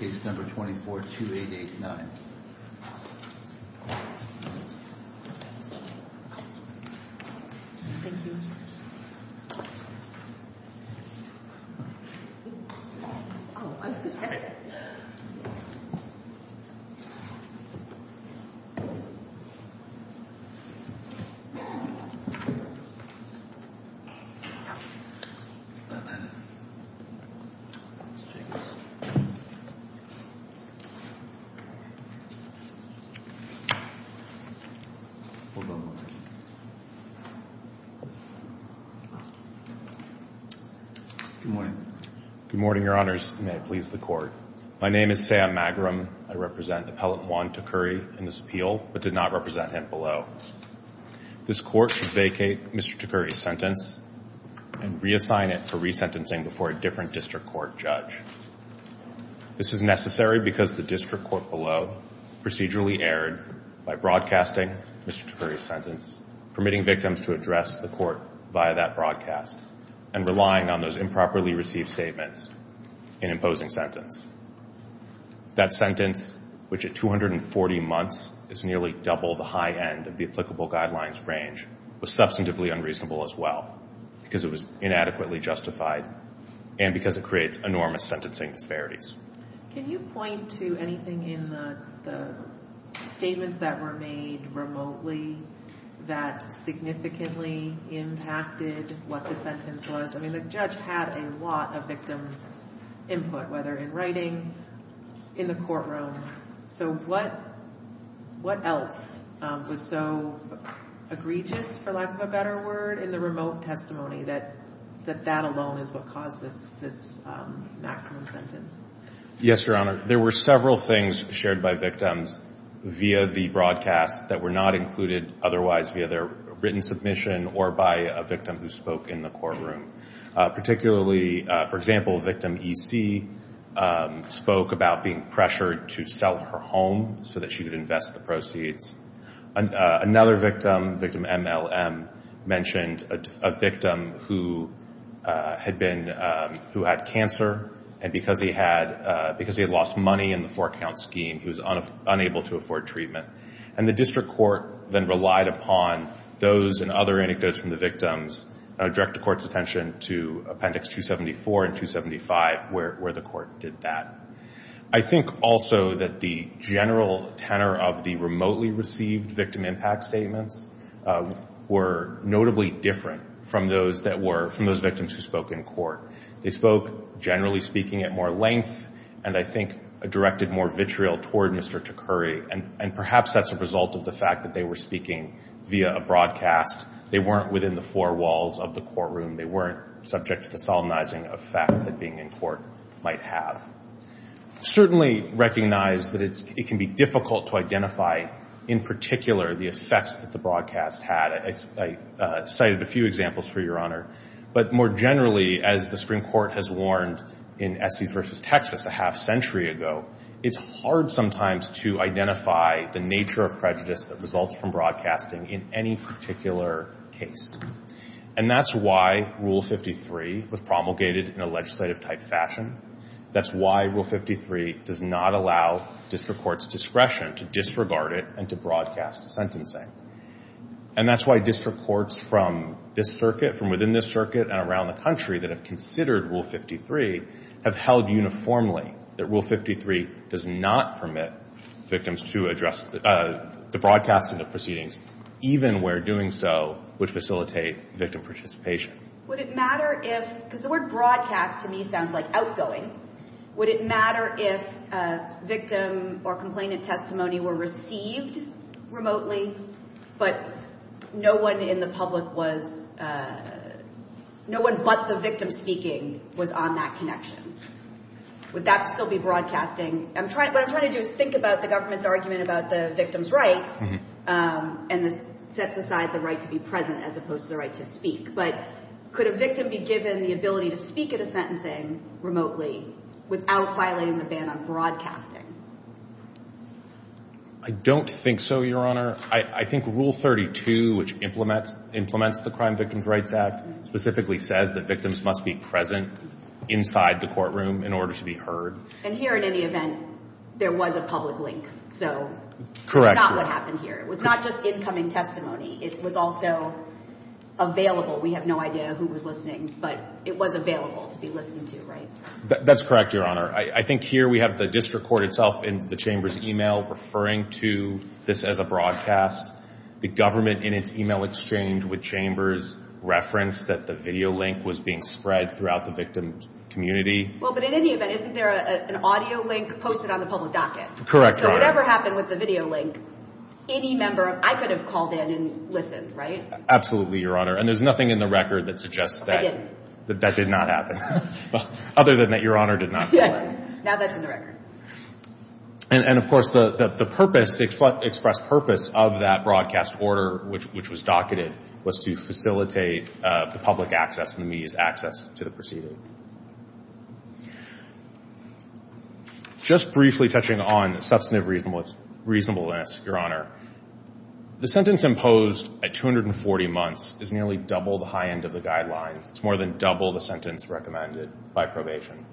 case number 242889. Good morning, your honors, may it please the court. My name is Sam Magrum. I represent Appellant Juan Tacuri in this appeal, but did not represent him below. This court should vacate Mr. Tacuri's sentence and reassign it for resentencing before a different district court judge. This is necessary because the district court below procedurally erred by broadcasting Mr. Tacuri's sentence, permitting victims to address the court via that broadcast and relying on those improperly received statements in imposing sentence. That sentence, which at 240 months is nearly double the high end of the applicable guidelines range, was substantively unreasonable as well because it was inadequately justified and because it creates enormous sentencing disparities. Can you point to anything in the statements that were made remotely that significantly impacted what the sentence was? I mean, the judge had a lot of victim input, whether in writing, in the courtroom. So what what else was so egregious, for lack of a better word, in the remote testimony that that alone is what caused this maximum sentence? Yes, your honor. There were several things shared by victims via the broadcast that were not included otherwise via their written submission or by a victim who spoke in the courtroom. Particularly, for example, victim E.C. spoke about being pressured to sell her home so that she could invest the proceeds. Another victim, victim M.L.M., mentioned a victim who had cancer and because he had lost money in the four-count scheme, he was unable to afford treatment. And the district court then relied upon those and other anecdotes from the victims to direct the court's attention to appendix 274 and 275 where the court did that. I think also that the general tenor of the remotely received victim impact statements were notably different from those that were, from those victims who spoke in court. They spoke, generally speaking, at more length and I think directed more vitriol toward Mr. Takuri. And perhaps that's a result of the fact that they were speaking via a broadcast. They weren't within the four walls of the courtroom. They weren't subject to the solemnizing effect that being in court might have. Certainly recognize that it can be difficult to identify, in particular, the effects that the broadcast had. I cited a few examples for your honor. But more generally, as the Supreme Court has warned in Essex v. Texas a half-century ago, it's hard sometimes to identify the nature of prejudice that results from broadcasting in any particular case. And that's why Rule 53 was promulgated in a legislative-type fashion. That's why Rule 53 does not allow district court's discretion to disregard it and to broadcast sentencing. And that's why district courts from this circuit, from within this circuit and around the country that have considered Rule 53 have held uniformly that Rule 53 does not permit victims to address the broadcasting of proceedings, even where doing so would facilitate victim participation. Would it matter if, because the word broadcast to me sounds like outgoing, would it matter if victim or complainant testimony were received remotely, but no one in the public was, no one but the victim speaking was on that connection? Would that still be broadcasting? What I'm trying to do is think about the government's argument about the victim's rights and sets aside the right to be present as opposed to the right to speak. But could a victim be given the ability to speak at a sentencing remotely without violating the ban on broadcasting? I don't think so, Your Honor. I think Rule 32, which implements the Crime Victims' Rights Act, specifically says that victims must be present inside the courtroom in order to be heard. And here, in any event, there was a public link. Correct. So that's not what happened here. It was not just incoming testimony. It was also available. We have no idea who was listening, but it was available to be listened to, right? That's correct, Your Honor. I think here we have the district court itself in the Chamber's e-mail referring to this as a broadcast. The government, in its e-mail exchange with Chambers, referenced that the video link was being spread throughout the victim's community. Well, but in any event, isn't there an audio link posted on the public docket? Correct, Your Honor. So whatever happened with the video link, any member of – I could have called in and listened, right? Absolutely, Your Honor. And there's nothing in the record that suggests that. I didn't. That that did not happen, other than that Your Honor did not call in. Yes. Now that's in the record. And, of course, the purpose, the express purpose of that broadcast order, which was docketed, was to facilitate the public access and the media's access to the proceeding. Just briefly touching on the substantive reasonableness, Your Honor, the sentence imposed at 240 months is nearly double the high end of the guidelines. It's more than double the sentence recommended by probation.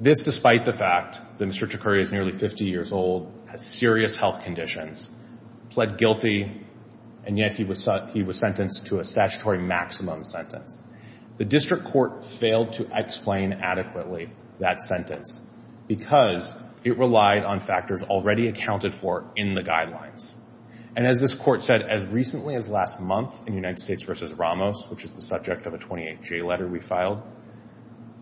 This despite the fact that Mr. Chakuri is nearly 50 years old, has serious health conditions, pled guilty, and yet he was sentenced to a statutory maximum sentence. The district court failed to explain adequately that sentence because it relied on factors already accounted for in the guidelines. And as this court said as recently as last month in United States v. Ramos, which is the subject of a 28-J letter we filed,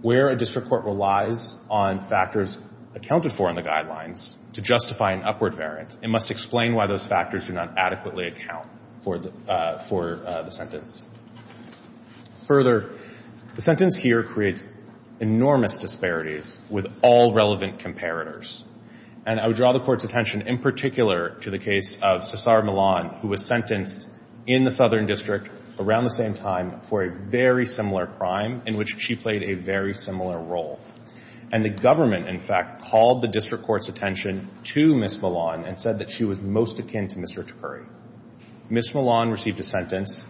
where a district court relies on factors accounted for in the guidelines to justify an upward variant, it must explain why those factors do not adequately account for the sentence. Further, the sentence here creates enormous disparities with all relevant comparators. And I would draw the court's attention in particular to the case of Cesar Millan, who was sentenced in the Southern District around the same time for a very similar crime in which she played a very similar role. And the government, in fact, called the district court's attention to Ms. Millan and said that she was most akin to Mr. Chakuri. Ms. Millan received a sentence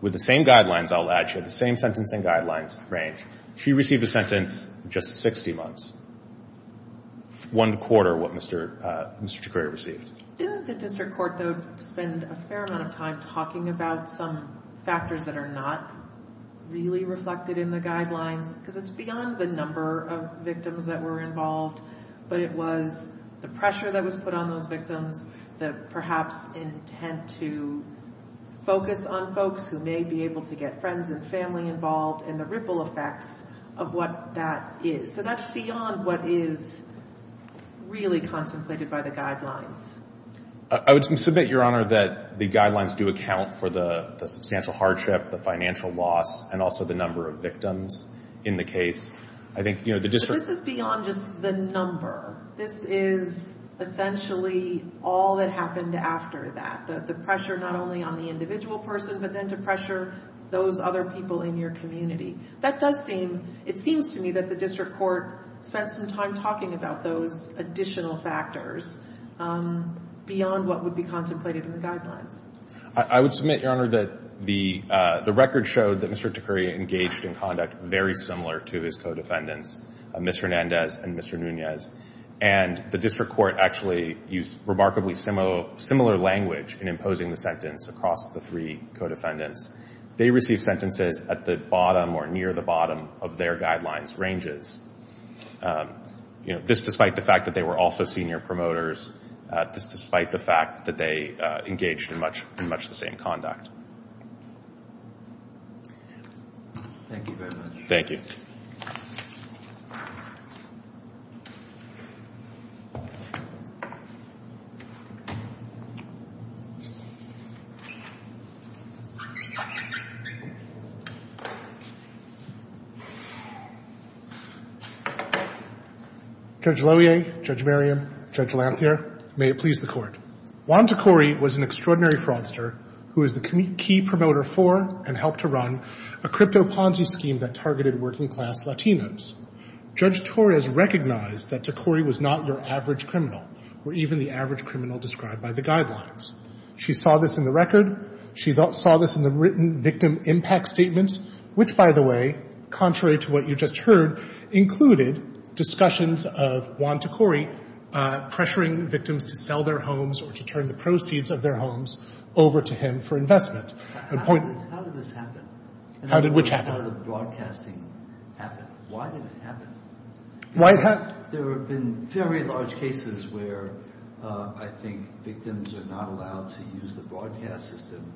with the same guidelines, I'll add, she had the same sentence and guidelines range. She received a sentence of just 60 months, one quarter what Mr. Chakuri received. Didn't the district court, though, spend a fair amount of time talking about some factors that are not really reflected in the guidelines? Because it's beyond the number of victims that were involved, but it was the pressure that was put on those victims that perhaps intent to focus on folks who may be able to get friends and family involved and the ripple effects of what that is. So that's beyond what is really contemplated by the guidelines. I would submit, Your Honor, that the guidelines do account for the substantial hardship, the financial loss, and also the number of victims in the case. I think, you know, the district. But this is beyond just the number. This is essentially all that happened after that. The pressure not only on the individual person, but then to pressure those other people in your community. That does seem, it seems to me that the district court spent some time talking about those additional factors beyond what would be contemplated in the guidelines. I would submit, Your Honor, that the record showed that Mr. Chakuri engaged in conduct very similar to his co-defendants, Mr. Hernandez and Mr. Nunez. And the district court actually used remarkably similar language in imposing the sentence across the three co-defendants. They received sentences at the bottom or near the bottom of their guidelines' ranges. You know, this despite the fact that they were also senior promoters. This despite the fact that they engaged in much the same conduct. Thank you very much. Thank you. Judge Loewe, Judge Merriam, Judge Lanthier, may it please the Court. Juan Takori was an extraordinary fraudster who is the key promoter for and helped to run a crypto-ponzi scheme that targeted working class Latinos. Judge Torres recognized that Takori was not your average criminal or even the average criminal described by the guidelines. She saw this in the record. She saw this in the written victim impact statements, which by the way, contrary to what you just heard, included discussions of Juan Takori pressuring victims to sell their homes or to turn the proceeds of their homes over to him for investment. How did this happen? How did which happen? How did the broadcasting happen? Why did it happen? There have been very large cases where I think victims are not allowed to use the broadcast system,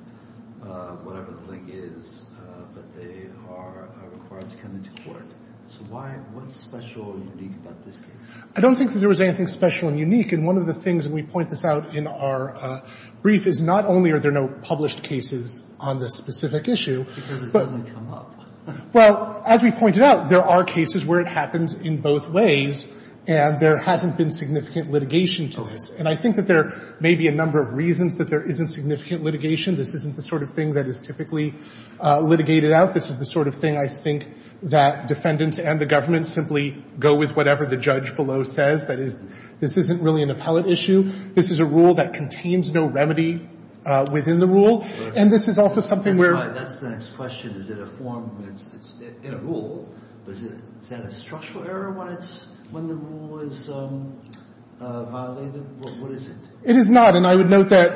whatever the link is, but they are required to come into court. So what's special or unique about this case? I don't think that there was anything special and unique. And one of the things, and we point this out in our brief, is not only are there no published cases on this specific issue, but as we pointed out, there are cases where it happens in both ways, and there hasn't been significant litigation to this. And I think that there may be a number of reasons that there isn't significant litigation. This isn't the sort of thing that is typically litigated out. This is the sort of thing I think that defendants and the government simply go with whatever the judge below says. That is, this isn't really an appellate issue. This is a rule that contains no remedy within the rule. And this is also something where — That's right. That's the next question. Is it a form that's in a rule? Is that a structural error when the rule is violated? What is it? It is not. And I would note that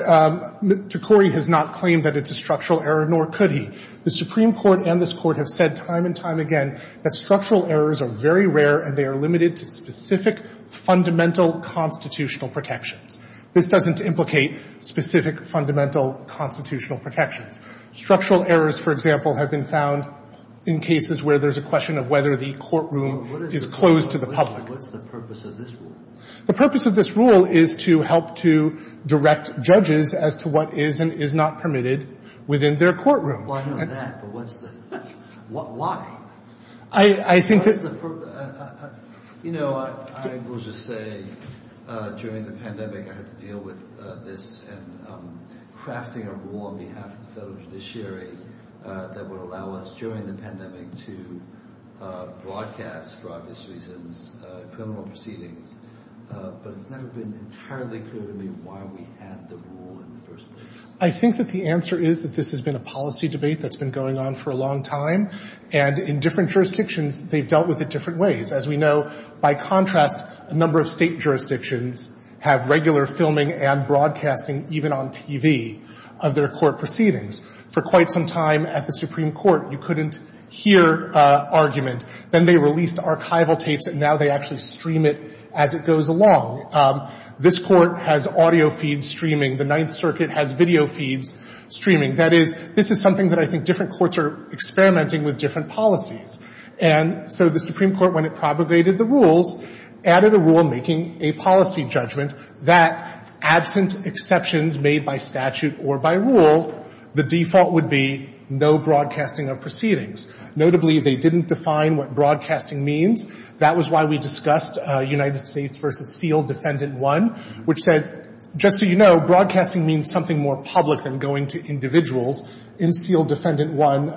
McCrory has not claimed that it's a structural error, nor could he. The Supreme Court and this Court have said time and time again that structural errors are very rare and they are limited to specific fundamental constitutional protections. This doesn't implicate specific fundamental constitutional protections. Structural errors, for example, have been found in cases where there's a question of whether the courtroom is closed to the public. What's the purpose of this rule? The purpose of this rule is to help to direct judges as to what is and is not permitted within their courtroom. I know that, but what's the — why? I think that — You know, I will just say, during the pandemic, I had to deal with this and crafting a rule on behalf of the federal judiciary that would allow us, during the pandemic, to broadcast, for obvious reasons, criminal proceedings. But it's never been entirely clear to me why we had the rule in the first place. I think that the answer is that this has been a policy debate that's been going on for a long time. And in different jurisdictions, they've dealt with it different ways. As we know, by contrast, a number of state jurisdictions have regular filming and broadcasting, even on TV, of their court proceedings. For quite some time at the Supreme Court, you couldn't hear argument. Then they released archival tapes, and now they actually stream it as it goes along. This Court has audio feeds streaming. The Ninth Circuit has video feeds streaming. That is — this is something that I think different courts are experimenting with different policies. And so the Supreme Court, when it propagated the rules, added a rule making a policy judgment that, absent exceptions made by statute or by rule, the default would be no broadcasting of proceedings. Notably, they didn't define what broadcasting means. That was why we discussed United States v. Seal Defendant 1, which said, just so you know, broadcasting means something more public than going to individuals. In Seal Defendant 1,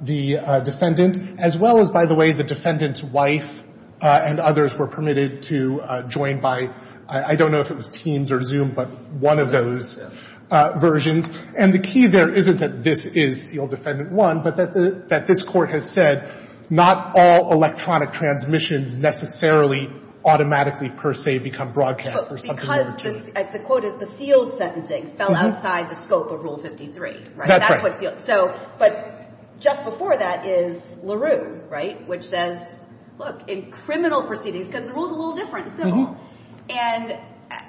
the defendant, as well as, by the way, the defendant's wife and others, were permitted to join by, I don't know if it was Teams or Zoom, but one of those versions. And the key there isn't that this is Seal Defendant 1, but that this Court has said not all electronic transmissions necessarily automatically, per se, become broadcast for something more intense. But because — the quote is, the sealed sentencing fell outside the scope of Rule 53. That's right. That's what's sealed. So — but just before that is LaRue, right, which says, look, in criminal proceedings — because the rule's a little different in civil. And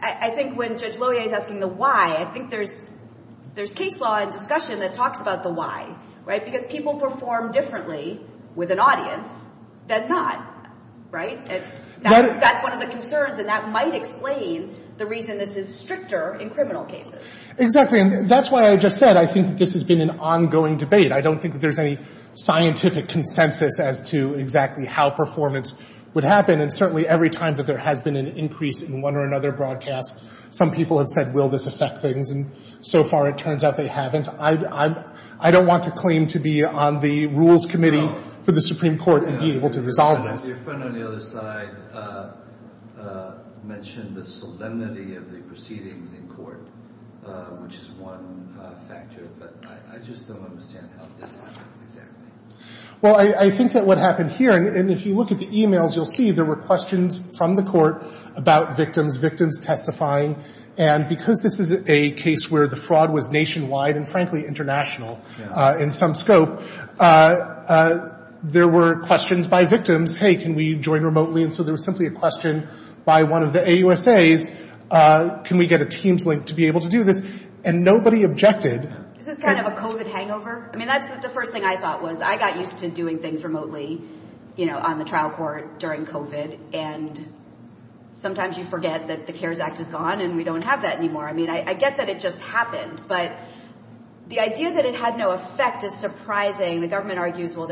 I think when Judge Loyer is asking the why, I think there's case law and discussion that talks about the why, right? Because people perform differently with an audience than not, right? And that's one of the concerns, and that might explain the reason this is stricter in criminal cases. Exactly. And that's why I just said I think this has been an ongoing debate. I don't think that there's any scientific consensus as to exactly how performance would happen. And certainly every time that there has been an increase in one or another broadcast, some people have said, will this affect things? And so far, it turns out they haven't. I don't want to claim to be on the Rules Committee for the Supreme Court and be able to resolve this. Your friend on the other side mentioned the solemnity of the proceedings in court, which is one factor. But I just don't understand how this happened exactly. Well, I think that what happened here — and if you look at the e-mails, you'll see there were questions from the court about victims, victims testifying. And because this is a case where the fraud was nationwide and, frankly, international in some scope, there were questions by victims. Hey, can we join remotely? And so there was simply a question by one of the AUSAs. Can we get a Teams link to be able to do this? And nobody objected. Is this kind of a COVID hangover? I mean, that's the first thing I thought was I got used to doing things remotely, you know, on the trial court during COVID. And sometimes you forget that the CARES Act is gone and we don't have that anymore. I mean, I get that it just happened. But the idea that it had no effect is surprising. The government argues, well,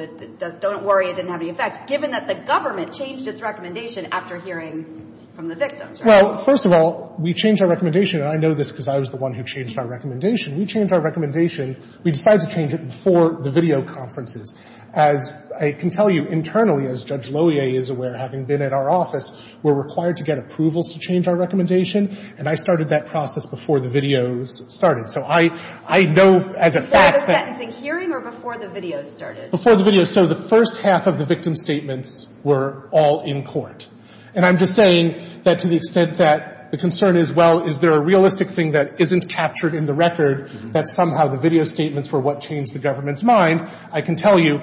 don't worry, it didn't have any effect, given that the government changed its recommendation after hearing from the victims, right? Well, first of all, we changed our recommendation. And I know this because I was the one who changed our recommendation. We changed our recommendation. We decided to change it before the video conferences. As I can tell you, internally, as Judge Lohier is aware, having been at our office, we're required to get approvals to change our recommendation. And I started that process before the videos started. So I know as a fact that— Before the sentencing hearing or before the videos started? Before the videos. So the first half of the victim statements were all in court. And I'm just saying that to the extent that the concern is, well, is there a realistic thing that isn't captured in the record, that somehow the video statements were what changed the government's mind, I can tell you.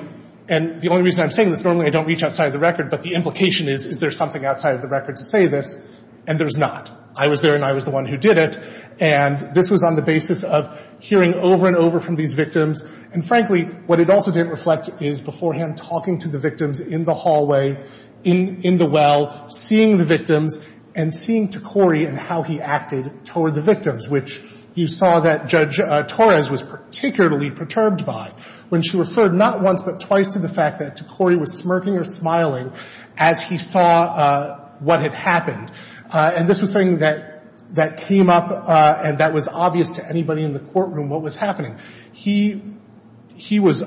And the only reason I'm saying this, normally I don't reach outside of the record, but the implication is, is there something outside of the record to say this? And there's not. I was there and I was the one who did it. And this was on the basis of hearing over and over from these victims. And frankly, what it also didn't reflect is beforehand talking to the victims in the hallway, in the well, seeing the victims, and seeing Tocori and how he acted toward the victims, which you saw that Judge Torres was particularly perturbed by when she referred not once but twice to the fact that Tocori was smirking or smiling as he saw what had happened. And this was something that came up and that was obvious to anybody in the courtroom what was happening. He was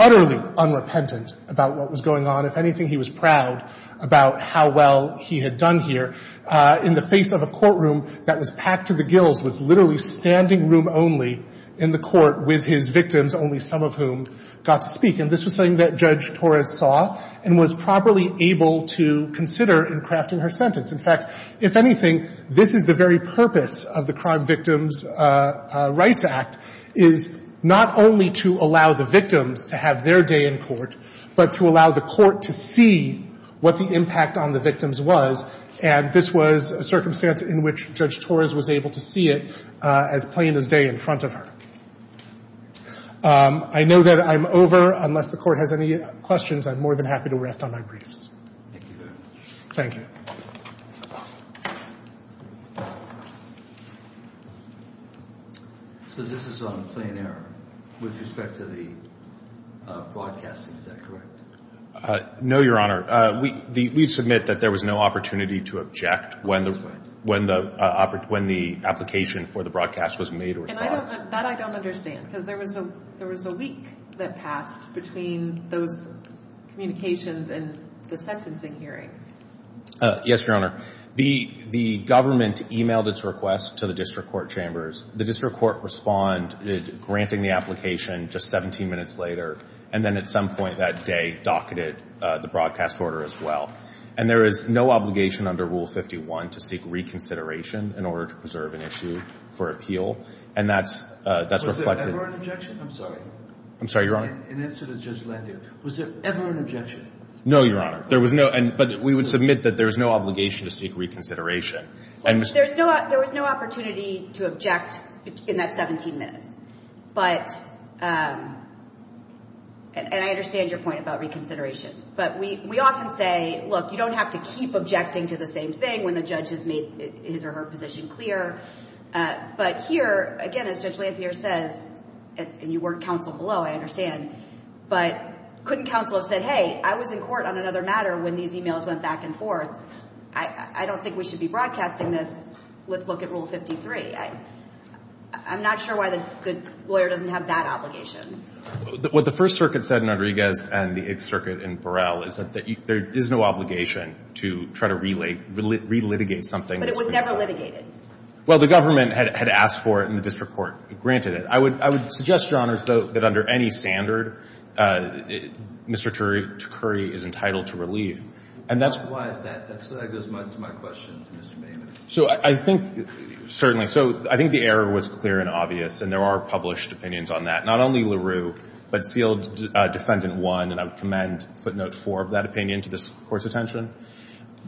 utterly unrepentant about what was going on. If anything, he was proud about how well he had done here in the face of a courtroom that was packed to the gills, was literally standing room only in the court with his victims, only some of whom got to speak. And this was something that Judge Torres saw and was properly able to consider in crafting her sentence. In fact, if anything, this is the very purpose of the Crime Victims' Rights Act, is not only to allow the victims to have their day in court, but to allow the court to see what the impact on the victims was. And this was a circumstance in which Judge Torres was able to see it as plain as day in front of her. I know that I'm over. Unless the Court has any questions, I'm more than happy to rest on my briefs. Thank you very much. Thank you. So this is on plain error with respect to the broadcasting, is that correct? No, Your Honor. We submit that there was no opportunity to object when the application for the broadcast was made or saw. And that I don't understand because there was a leak that passed between those Yes, Your Honor. The government emailed its request to the district court chambers. The district court responded, granting the application just 17 minutes later. And then at some point that day, docketed the broadcast order as well. And there is no obligation under Rule 51 to seek reconsideration in order to preserve an issue for appeal. And that's reflected. Was there ever an objection? I'm sorry. I'm sorry, Your Honor. In answer to Judge Landier. Was there ever an objection? No, Your Honor. There was no. But we would submit that there is no obligation to seek reconsideration. There was no opportunity to object in that 17 minutes. But, and I understand your point about reconsideration. But we often say, look, you don't have to keep objecting to the same thing when the judge has made his or her position clear. But here, again, as Judge Landier says, and you weren't counsel below, I understand, but couldn't counsel have said, hey, I was in court on another matter when these emails went back and forth. I don't think we should be broadcasting this. Let's look at Rule 53. I'm not sure why the lawyer doesn't have that obligation. What the First Circuit said in Rodriguez and the Eighth Circuit in Burrell is that there is no obligation to try to relitigate something. But it was never litigated. Well, the government had asked for it and the district court granted it. I would suggest, Your Honors, though, that under any standard, Mr. Curry is entitled to relief. And that's why that goes to my question to Mr. Maynard. So I think, certainly, so I think the error was clear and obvious. And there are published opinions on that. Not only LaRue, but Sealed Defendant 1. And I would commend footnote 4 of that opinion to this Court's attention.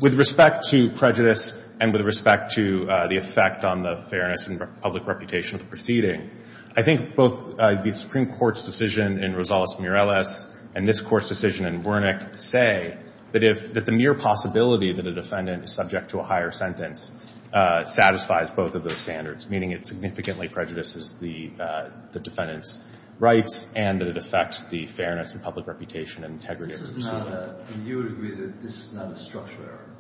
With respect to prejudice and with respect to the effect on the fairness and public reputation of the proceeding, I think both the Supreme Court's decision in Rosales Mureles and this Court's decision in Wernick say that the mere possibility that a defendant is subject to a higher sentence satisfies both of those standards, meaning it significantly prejudices the defendant's rights and that it affects the fairness and public reputation and integrity of the proceeding. This is not a, and you would agree that this is not a structural error?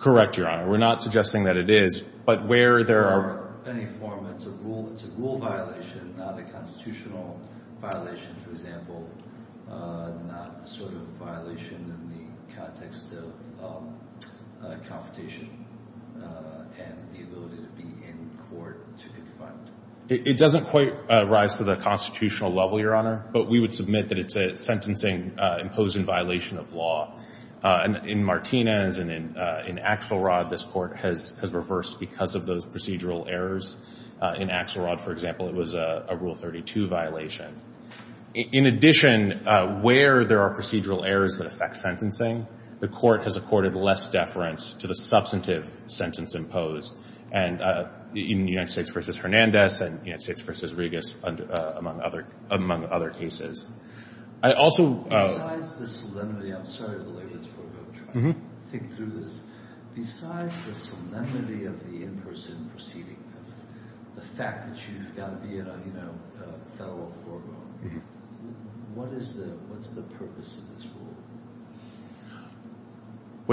Correct, Your Honor. We're not suggesting that it is. But where there are In any form, it's a rule violation, not a constitutional violation, for example. Not the sort of violation in the context of competition and the ability to be in court to confront. It doesn't quite rise to the constitutional level, Your Honor. But we would submit that it's a sentencing imposed in violation of law. In Martinez and in Axelrod, this Court has reversed because of those procedural errors. In Axelrod, for example, it was a Rule 32 violation. In addition, where there are procedural errors that affect sentencing, the Court has accorded less deference to the substantive sentence imposed. And in United States v. Hernandez and United States v. Regas, among other cases. I also Besides the solemnity, I'm sorry to delay this, but I'm trying to think through this. Besides the solemnity of the in-person proceeding, the fact that you've got to be in a federal courtroom, what is the purpose of this Rule?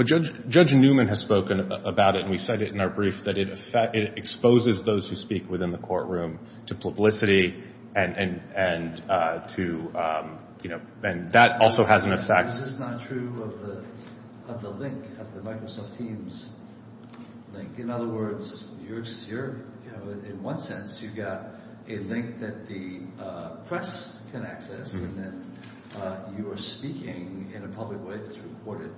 Judge Newman has spoken about it, and we said it in our brief, that it exposes those who speak within the courtroom to publicity, and that also has an effect. Is this not true of the link, of the Microsoft Teams link? In other words, in one sense, you've got a link that the press can access, and then you are speaking in a public way that's recorded.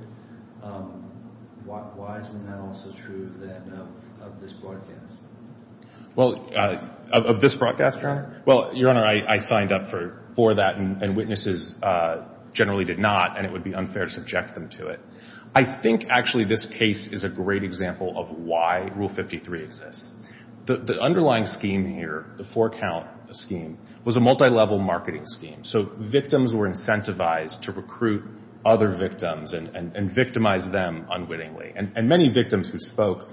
Why isn't that also true, then, of this broadcast? Well, of this broadcast, Your Honor? Well, Your Honor, I signed up for that, and witnesses generally did not, and it would be unfair to subject them to it. I think, actually, this case is a great example of why Rule 53 exists. The underlying scheme here, the four-count scheme, was a multilevel marketing scheme. So victims were incentivized to recruit other victims and victimize them unwittingly. And many victims who spoke,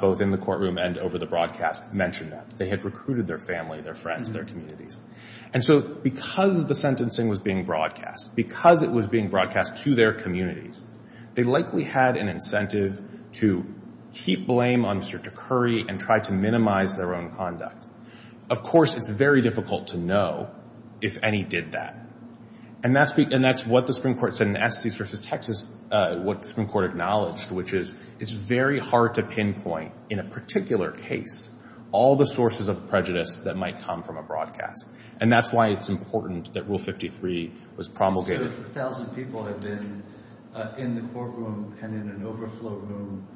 both in the courtroom and over the broadcast, mentioned that. They had recruited their family, their friends, their communities. And so because the sentencing was being broadcast, because it was being broadcast to their communities, they likely had an incentive to keep blame on Mr. DeCurry and try to minimize their own conduct. Of course, it's very difficult to know if any did that. And that's what the Supreme Court said in Estes v. Texas, what the Supreme Court acknowledged, which is it's very hard to pinpoint, in a particular case, all the sources of prejudice that might come from a broadcast. And that's why it's important that Rule 53 was promulgated. So if a thousand people had been in the courtroom and in an overflow room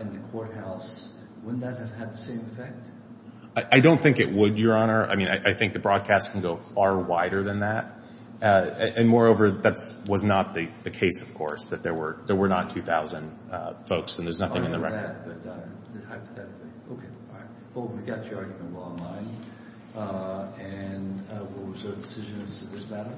in the courthouse, wouldn't that have had the same effect? I don't think it would, Your Honor. I mean, I think the broadcast can go far wider than that. And moreover, that was not the case, of course, that there were not 2,000 folks, and there's nothing in the record. Not only that, but hypothetically. Okay, all right. Well, we got your argument well in line. And we'll reserve decisions to this matter.